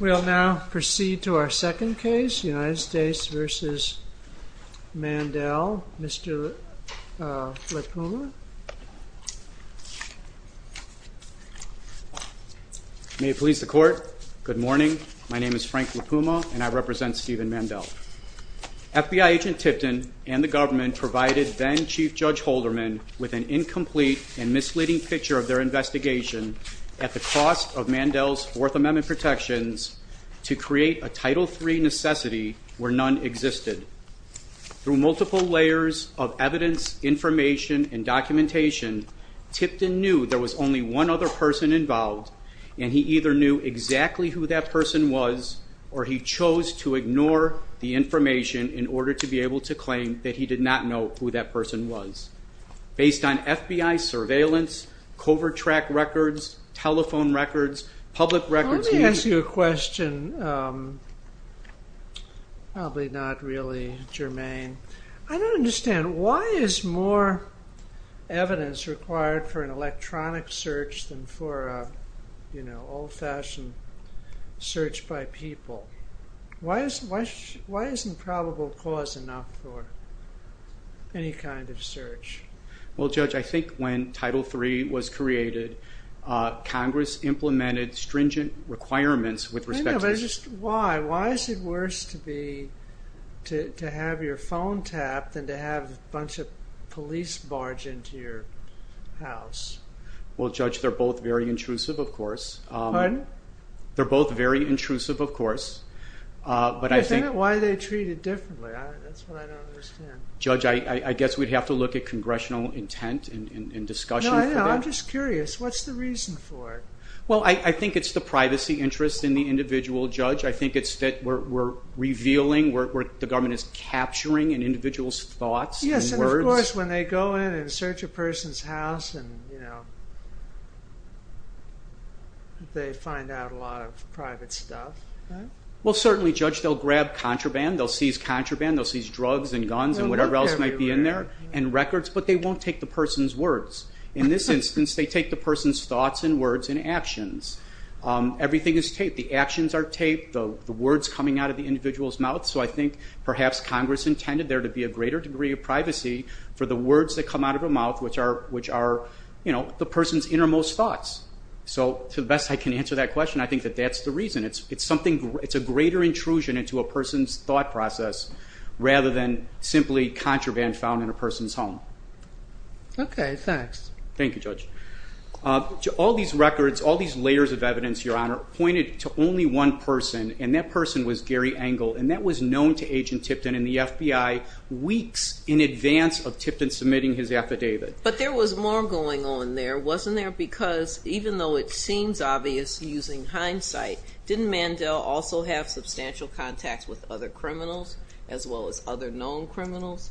We'll now proceed to our second case, United States v. Mandell. Mr. Lipuma. May it please the court. Good morning. My name is Frank Lipuma and I represent Steven Mandell. FBI agent Tipton and the government provided then Chief Judge Holderman with an incomplete and misleading picture of their protections to create a Title III necessity where none existed. Through multiple layers of evidence, information, and documentation, Tipton knew there was only one other person involved and he either knew exactly who that person was or he chose to ignore the information in order to be able to claim that he did not know who that person was. Based on FBI surveillance, covert track records, telephone records, public records... Let me ask you a question, probably not really germane. I don't understand, why is more evidence required for an electronic search than for a, you know, old-fashioned search by people? Why isn't probable cause enough for any kind of search? Well Judge, I think when Title III was created, Congress implemented stringent requirements with respect to... Why? Why is it worse to have your phone tapped than to have a bunch of police barge into your house? Well Judge, they're both very intrusive, of course. Pardon? They're both very intrusive, of course, but I think... Why are they treated differently? That's what I don't understand. Judge, I guess we'd have to look at that. No, I'm just curious. What's the reason for it? Well, I think it's the privacy interest in the individual, Judge. I think it's that we're revealing, the government is capturing an individual's thoughts and words. Yes, and of course, when they go in and search a person's house and, you know, they find out a lot of private stuff. Well certainly, Judge, they'll grab contraband, they'll seize contraband, they'll seize drugs and guns and whatever else might be in there, and records, but they won't take the person's words. In this instance, they take the person's thoughts and words and actions. Everything is taped. The actions are taped, the words coming out of the individual's mouth, so I think perhaps Congress intended there to be a greater degree of privacy for the words that come out of a mouth, which are, you know, the person's innermost thoughts. So to the best I can answer that question, I think that that's the reason. It's something, it's a greater intrusion into a person's thought process rather than simply contraband found in a person's home. Okay, thanks. Thank you, Judge. All these records, all these layers of evidence, Your Honor, pointed to only one person, and that person was Gary Engel, and that was known to Agent Tipton and the FBI weeks in advance of Tipton submitting his affidavit. But there was more going on there, wasn't there? Because even though it seems obvious using hindsight, didn't Mandel also have substantial contacts with other criminals as well as other known criminals?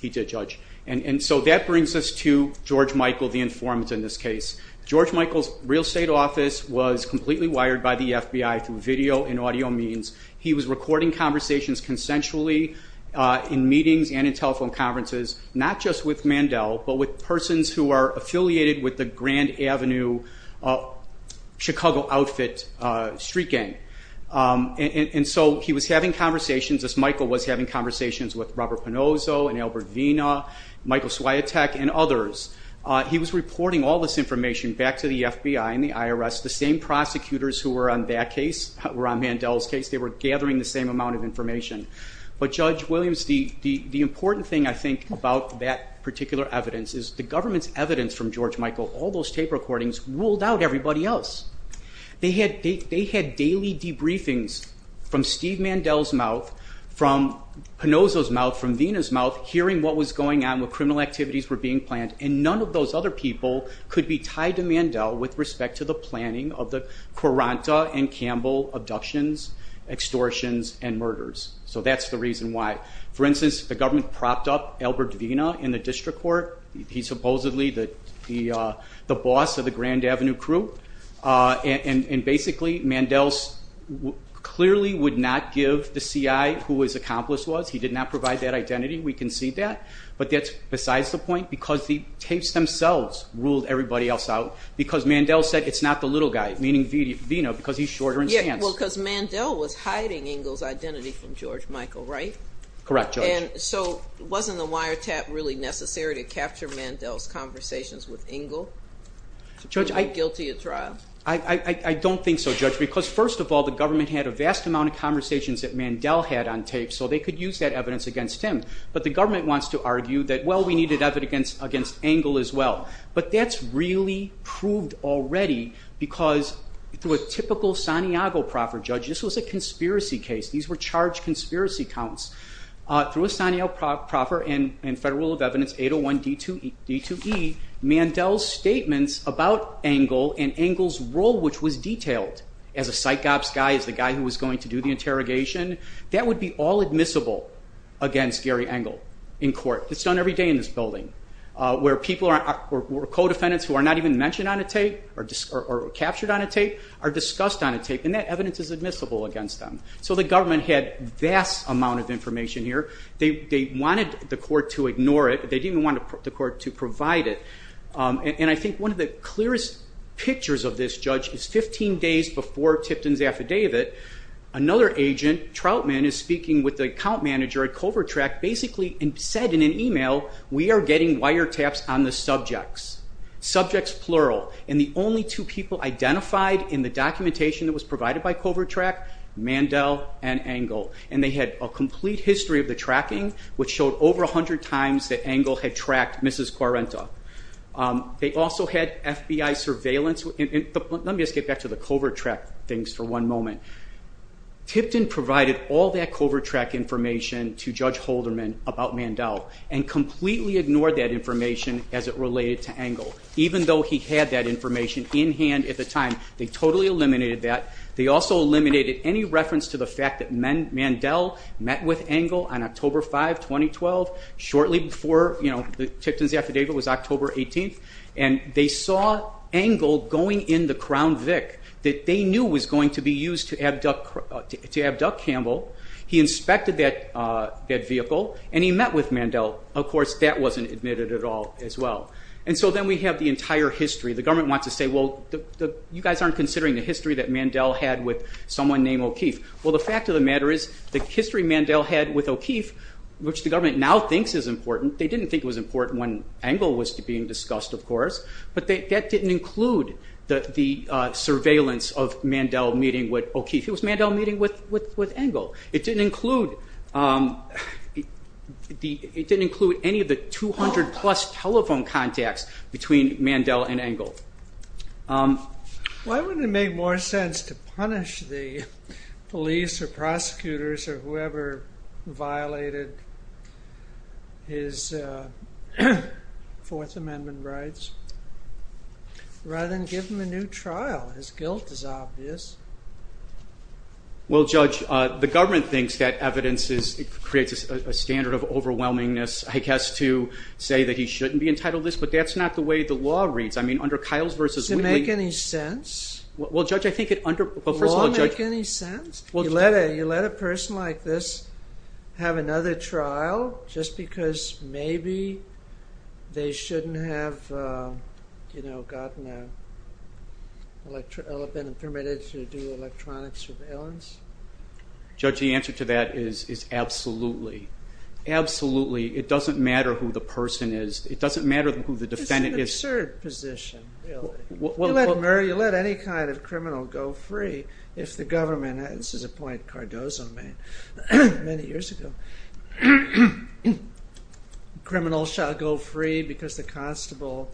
He did, Judge. And so that brings us to George Michael, the informant in this case. George Michael's real estate office was completely wired by the FBI through video and audio means. He was recording conversations consensually in meetings and in telephone conferences, not just with Mandel, but with persons who are affiliated with the Grand Avenue Chicago Outfit street gang. And so he was having conversations as Michael was having conversations with Robert Pinozzo and Albert Vina, Michael Swiatek, and others. He was reporting all this information back to the FBI and the IRS, the same prosecutors who were on that case, were on Mandel's case. They were gathering the same amount of information. But Judge Williams, the important thing, I think, about that particular evidence is the government's evidence from George Michael, all those tape recordings, ruled out everybody else. They had daily debriefings from Steve Mandel's mouth, from Pinozzo's mouth, from Vina's mouth, hearing what was going on, what criminal activities were being planned. And none of those other people could be tied to Mandel with respect to the planning of the Quaranta and Campbell abductions, extortions, and murders. So that's the reason why. For instance, the government propped up Albert Vina in the district court. He's supposedly the boss of the Grand Avenue crew. And basically, Mandel clearly would not give the CI who his accomplice was. He did not provide that identity. We can see that. But that's besides the point. Because the tapes themselves ruled everybody else out. Because Mandel said, it's not the little guy, meaning Vina, because he's shorter in stance. Yeah, well, because Mandel was hiding Ingle's identity from George Michael, right? Correct, Judge. And so wasn't the wiretap really necessary to capture Mandel's conversations with Ingle? To prove him guilty at trial? I don't think so, Judge. Because first of all, the government had a vast amount of conversations that Mandel had on tape, so they could use that evidence against him. But the government wants to argue that, well, we needed evidence against Ingle as well. But that's really proved already, because through a typical Santiago proffer, Judge, this was a conspiracy case. These were charged conspiracy counts. Through a Santiago proffer and Federal Rule of Evidence 801 D2E, Mandel's statements about Ingle and Ingle's role, which was detailed as a psych ops guy, as the guy who was going to do the interrogation, that would be all admissible against Gary Ingle in court. It's done every day in this building, where co-defendants who are not even mentioned on a tape, or captured on a tape, are discussed on a tape. And that government had vast amount of information here. They wanted the court to ignore it. They didn't even want the court to provide it. And I think one of the clearest pictures of this, Judge, is 15 days before Tipton's affidavit, another agent, Troutman, is speaking with the account manager at Covertrack, basically said in an email, we are getting wiretaps on the subjects. Subjects, plural. And the only two people identified in the documentation that was provided by Covertrack, Mandel and Ingle. And they had a complete history of the tracking, which showed over 100 times that Ingle had tracked Mrs. Quarenta. They also had FBI surveillance. Let me just get back to the Covertrack things for one moment. Tipton provided all that Covertrack information to Judge Holderman about Mandel, and completely ignored that information as it related to Ingle. Even though he had that information in hand at the time, they totally eliminated that. They also eliminated any reference to the fact that Mandel met with Ingle on October 5, 2012, shortly before Tipton's affidavit was October 18th. And they saw Ingle going in the Crown Vic that they knew was going to be used to abduct Campbell. He inspected that vehicle, and he met with Mandel. Of course, that wasn't admitted at all as well. And so then we have the entire history. The government wants to say, well, you guys aren't considering the history that Mandel had with someone named O'Keeffe. Well, the fact of the matter is, the history Mandel had with O'Keeffe, which the government now thinks is important, they didn't think it was important when Ingle was being discussed, of course. But that didn't include the surveillance of Mandel meeting with O'Keeffe. It was Mandel meeting with Ingle. It didn't include any of the 200 plus telephone contacts between Mandel and Ingle. Why wouldn't it make more sense to punish the police or prosecutors or whoever violated his Fourth Amendment rights, rather than give him a new trial? His guilt is obvious. Well, Judge, the government thinks that evidence creates a standard of overwhelmingness, I shouldn't be entitled to this, but that's not the way the law reads. I mean, under Kyle's versus Wheatley- Does it make any sense? Well, Judge, I think it under- Does the law make any sense? You let a person like this have another trial just because maybe they shouldn't have, you know, gotten a permit to do electronic surveillance? Judge, the answer to that is absolutely. Absolutely. It doesn't matter who the person is. It doesn't matter who the defendant is. It's an absurd position, really. You let any kind of criminal go free if the government- this is a point Cardozo made many years ago. Criminals shall go free because the constable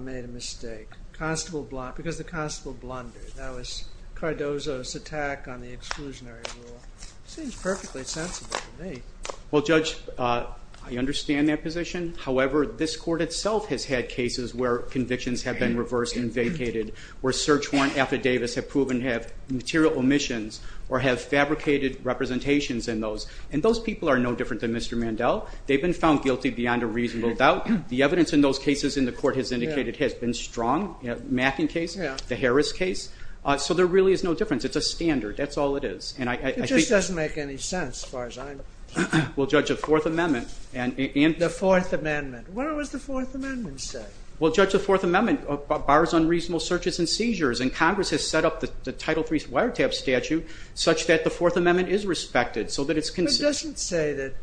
made a mistake. Because the constable blundered. That was Cardozo's attack on the exclusionary rule. It seems perfectly sensible to me. Well, Judge, I understand that position. However, this court itself has had cases where convictions have been reversed and vacated, where search warrant affidavits have proven to have material omissions or have fabricated representations in those. And those people are no different than Mr. Mandel. They've been found guilty beyond a reasonable doubt. The evidence in those cases in the court has indicated has been strong. The Macken case, the Harris case. So there really is no difference. It's a standard. That's all it is. It just doesn't make any sense as far as I'm concerned. Well, Judge, the Fourth Amendment- The Fourth Amendment. What does the Fourth Amendment say? Well, Judge, the Fourth Amendment bars unreasonable searches and seizures. And Congress has set up the Title III wiretap statute such that the Fourth Amendment is respected so that it's consistent.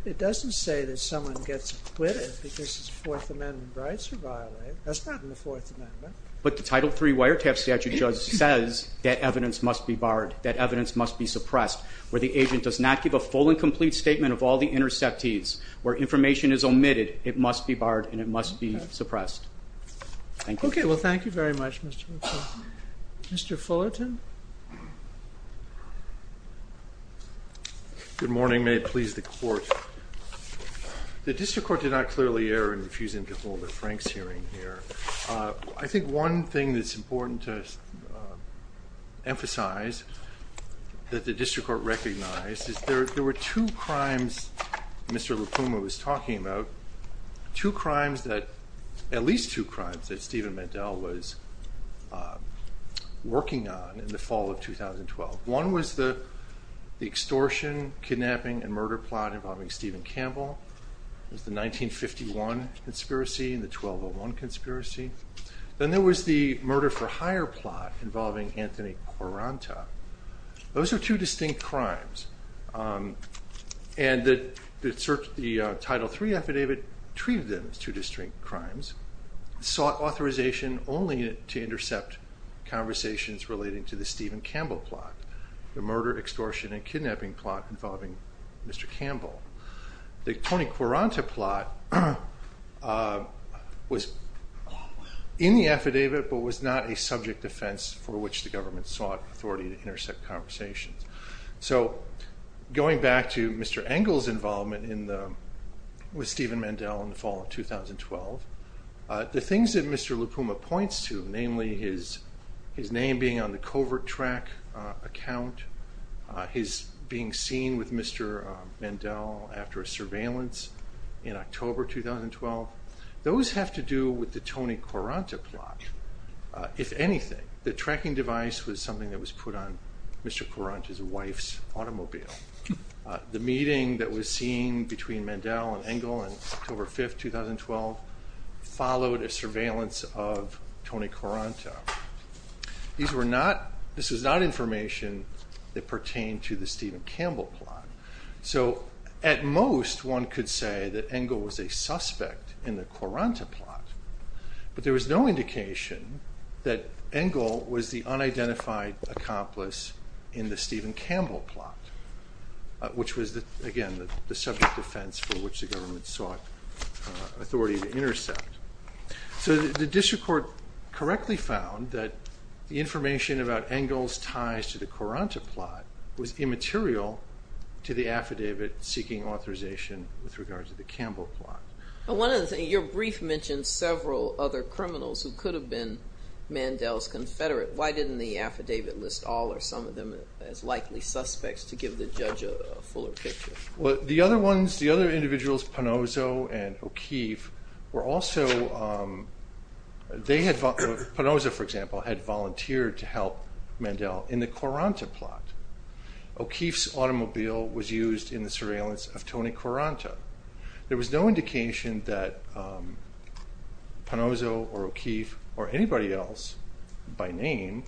It doesn't say that someone gets acquitted because his Fourth Amendment rights are violated. That's not in the Fourth Amendment. But the Title III wiretap statute, Judge, says that evidence must be barred, that evidence must be suppressed. Where the agent does not give a full and complete statement of all the interceptees, where information is omitted, it must be barred and it must be suppressed. Thank you. Okay. Well, thank you very much, Mr. McClure. Mr. Fullerton. Good morning. May it please the Court. The District Court did not clearly err in refusing to hold a Franks hearing here. I think one thing that's important to emphasize that the District Court recognized is there were two crimes Mr. LaPuma was talking about, two crimes that- at least two crimes that happened in the fall of 2012. One was the extortion, kidnapping, and murder plot involving Stephen Campbell. It was the 1951 conspiracy and the 1201 conspiracy. Then there was the murder-for-hire plot involving Anthony Cuaranta. Those are two distinct crimes. And the Title III affidavit treated them as two distinct crimes, sought authorization only to intercept conversations relating to the Stephen Campbell plot, the murder, extortion, and kidnapping plot involving Mr. Campbell. The Tony Cuaranta plot was in the affidavit but was not a subject offense for which the government sought authority to intercept conversations. So going back to Mr. Engel's involvement in the- with Stephen Mandel in the fall of 2012, the things that Mr. LaPuma points to, namely his name being on the covert track account, his being seen with Mr. Mandel after a surveillance in October 2012, those have to do with the Tony Cuaranta plot, if anything. The tracking device was something that was put on Mr. Cuaranta's wife's automobile. The meeting that was seen between Mandel and Engel on October 5, 2012 followed a surveillance of Tony Cuaranta. These were not- this was not information that pertained to the Stephen Campbell plot. So at most one could say that Engel was a suspect in the Cuaranta plot, but there was no indication that Engel was the unidentified accomplice in the Stephen Campbell plot, which was, again, the subject offense for which the government sought authority to intercept. So the district court correctly found that the information about Engel's ties to the Cuaranta plot was immaterial to the affidavit seeking authorization with regards to the Campbell plot. One other thing, your brief mentioned several other criminals who could have been Mandel's confederate. Why didn't the affidavit list all or some of them as likely suspects to give the judge a fuller picture? The other ones, the other individuals, Ponozo and O'Keefe, were also- they had- Ponozo, for example, had volunteered to help Mandel in the Cuaranta plot. O'Keefe's automobile was used in the surveillance of Tony Cuaranta. There was no indication that Ponozo or O'Keefe or anybody else by name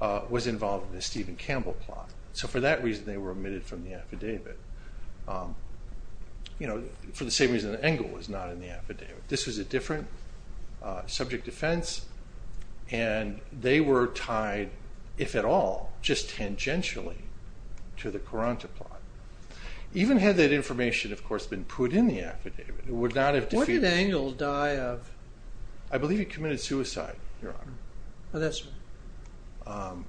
was involved in the Stephen Campbell plot. So for that reason they were omitted from the affidavit. You know, for the same reason that Engel was not in the affidavit. This was a different subject offense and they were tied, if at all, just tangentially to the Cuaranta plot. Even had that information, of course, been put in the affidavit, it would not have defeated- Where did Engel die of- I believe he committed suicide, your honor. Oh, that's right.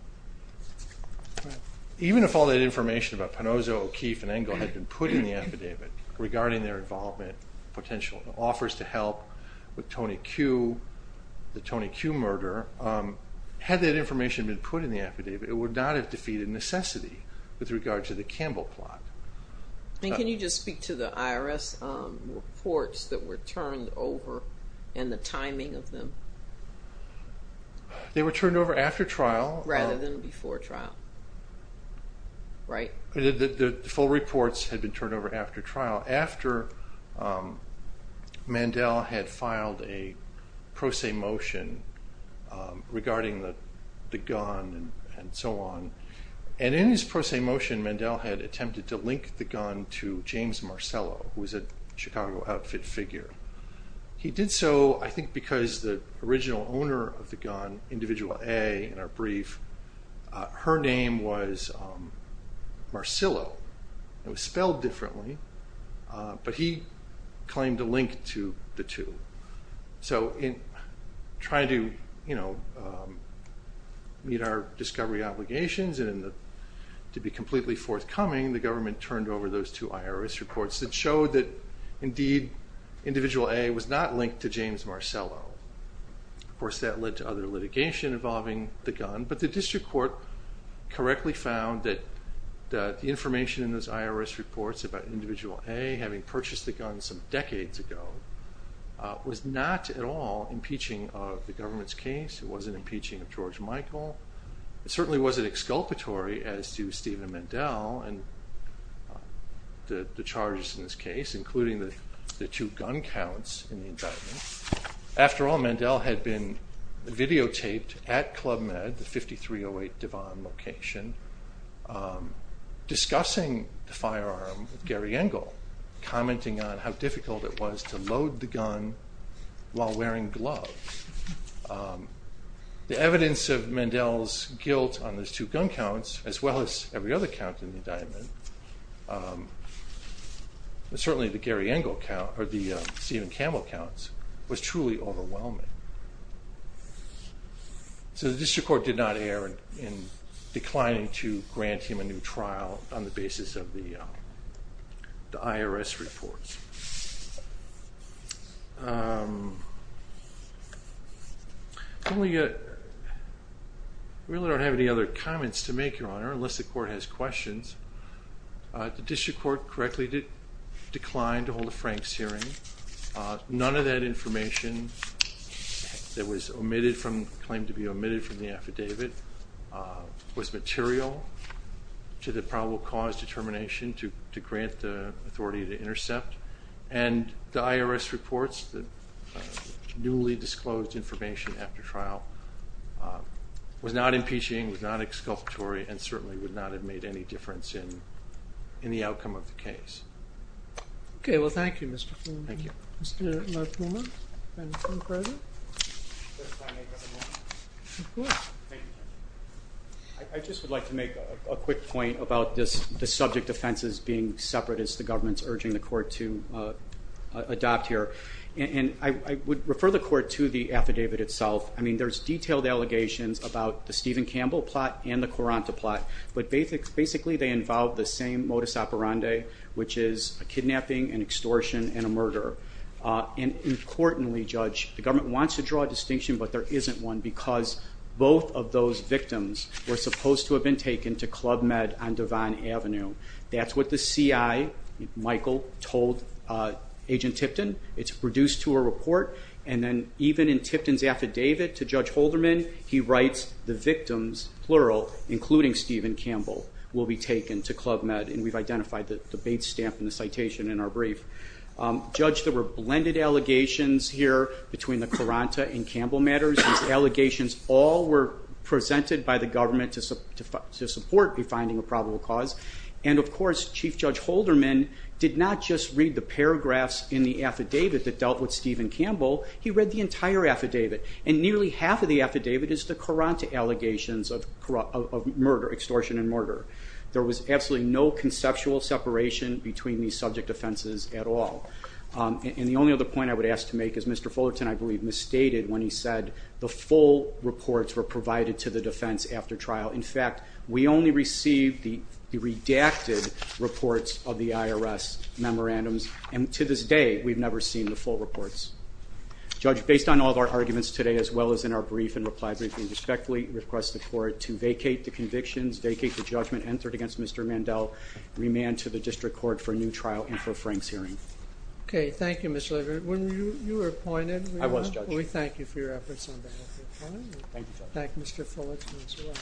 Even if all that information about Ponozo, O'Keefe, and Engel had been put in the affidavit regarding their involvement, potential offers to help with Tony Cue, the Tony Cue murder, had that information been put in the affidavit, it would not have defeated necessity with regard to the Campbell plot. And can you just speak to the IRS reports that were turned over and the timing of them? They were turned over after trial- The full reports had been turned over after trial, after Mandel had filed a pro se motion regarding the gun and so on. And in his pro se motion, Mandel had attempted to link the gun to James Marcello, who was a Chicago outfit figure. He did so, I think, because the original owner of the gun, Individual A, in our brief, her name was Marcello. It was spelled differently, but he claimed to link to the two. So in trying to meet our discovery obligations and to be completely forthcoming, the government turned over those two IRS reports that showed that, indeed, Individual A was not linked to James Marcello. Of course, that led to other litigation involving the gun, but the district court correctly found that the information in those IRS reports about Individual A having purchased the gun some decades ago was not at all impeaching of the government's case. It wasn't impeaching of George Michael. It certainly wasn't exculpatory as to Stephen Mandel and the charges in this case, including the two gun counts in the indictment. After all, Mandel had been videotaped at Club Med, the 5308 Devon location, discussing the firearm with Gary Engle, commenting on how difficult it was to load the gun while wearing gloves. The evidence of Mandel's guilt on those two gun counts, as well as every other count in the indictment, certainly the Gary Engle count, or the Stephen Campbell counts, was truly overwhelming. So the district court did not err in declining to grant him a new trial on the basis of the IRS reports. I really don't have any other comments to make, Your Honor, unless the court has questions. The district court correctly declined to hold a Franks hearing. None of that information that was claimed to be omitted from the affidavit was material to the probable cause determination to grant the authority to intercept. And the IRS reports, the newly disclosed information after trial, was not impeaching, was not exculpatory, and certainly would not have made any difference in the outcome of the case. Okay, well thank you, Mr. Fleming. Thank you. Mr. McMillan? I just would like to make a quick point about the subject offenses being separate, as the government's urging the court to adopt here. And I would refer the court to the affidavit itself. I mean, there's detailed allegations about the Stephen Campbell plot and the Coranta plot, but basically they involve the same modus operandi, which is a kidnapping, an extortion, and a murder. And importantly, Judge, the government wants to draw a distinction, but there isn't one, because both of those victims were supposed to have been taken to Club Med on Devon Avenue. That's what the CI, Michael, told Agent Tipton. It's reduced to a report, and then even in Tipton's affidavit to Judge Holderman, he writes the victims plural, including Stephen Campbell, will be taken to Club Med. And we've identified the bait stamp in the citation in our brief. Judge, there were blended allegations here between the Coranta and Campbell matters. These allegations all were presented by the government to support the finding of probable cause. And of course, Chief Judge Holderman did not just read the paragraphs in the affidavit that dealt with Stephen Campbell. He read the entire affidavit. And nearly half of the allegations of murder, extortion and murder, there was absolutely no conceptual separation between these subject offenses at all. And the only other point I would ask to make is Mr. Fullerton, I believe, misstated when he said the full reports were provided to the defense after trial. In fact, we only received the redacted reports of the IRS memorandums, and to this day, we've never seen the full reports. Judge, based on all of our arguments today, as well as in our brief and reply brief, we request the court to vacate the convictions, vacate the judgment entered against Mr. Mandel, remand to the district court for a new trial and for Frank's hearing. Okay, thank you, Mr. Leverett. When you were appointed, we thank you for your efforts on behalf of the court. Thank you, Judge. Thank you, Mr. Fullerton, as well.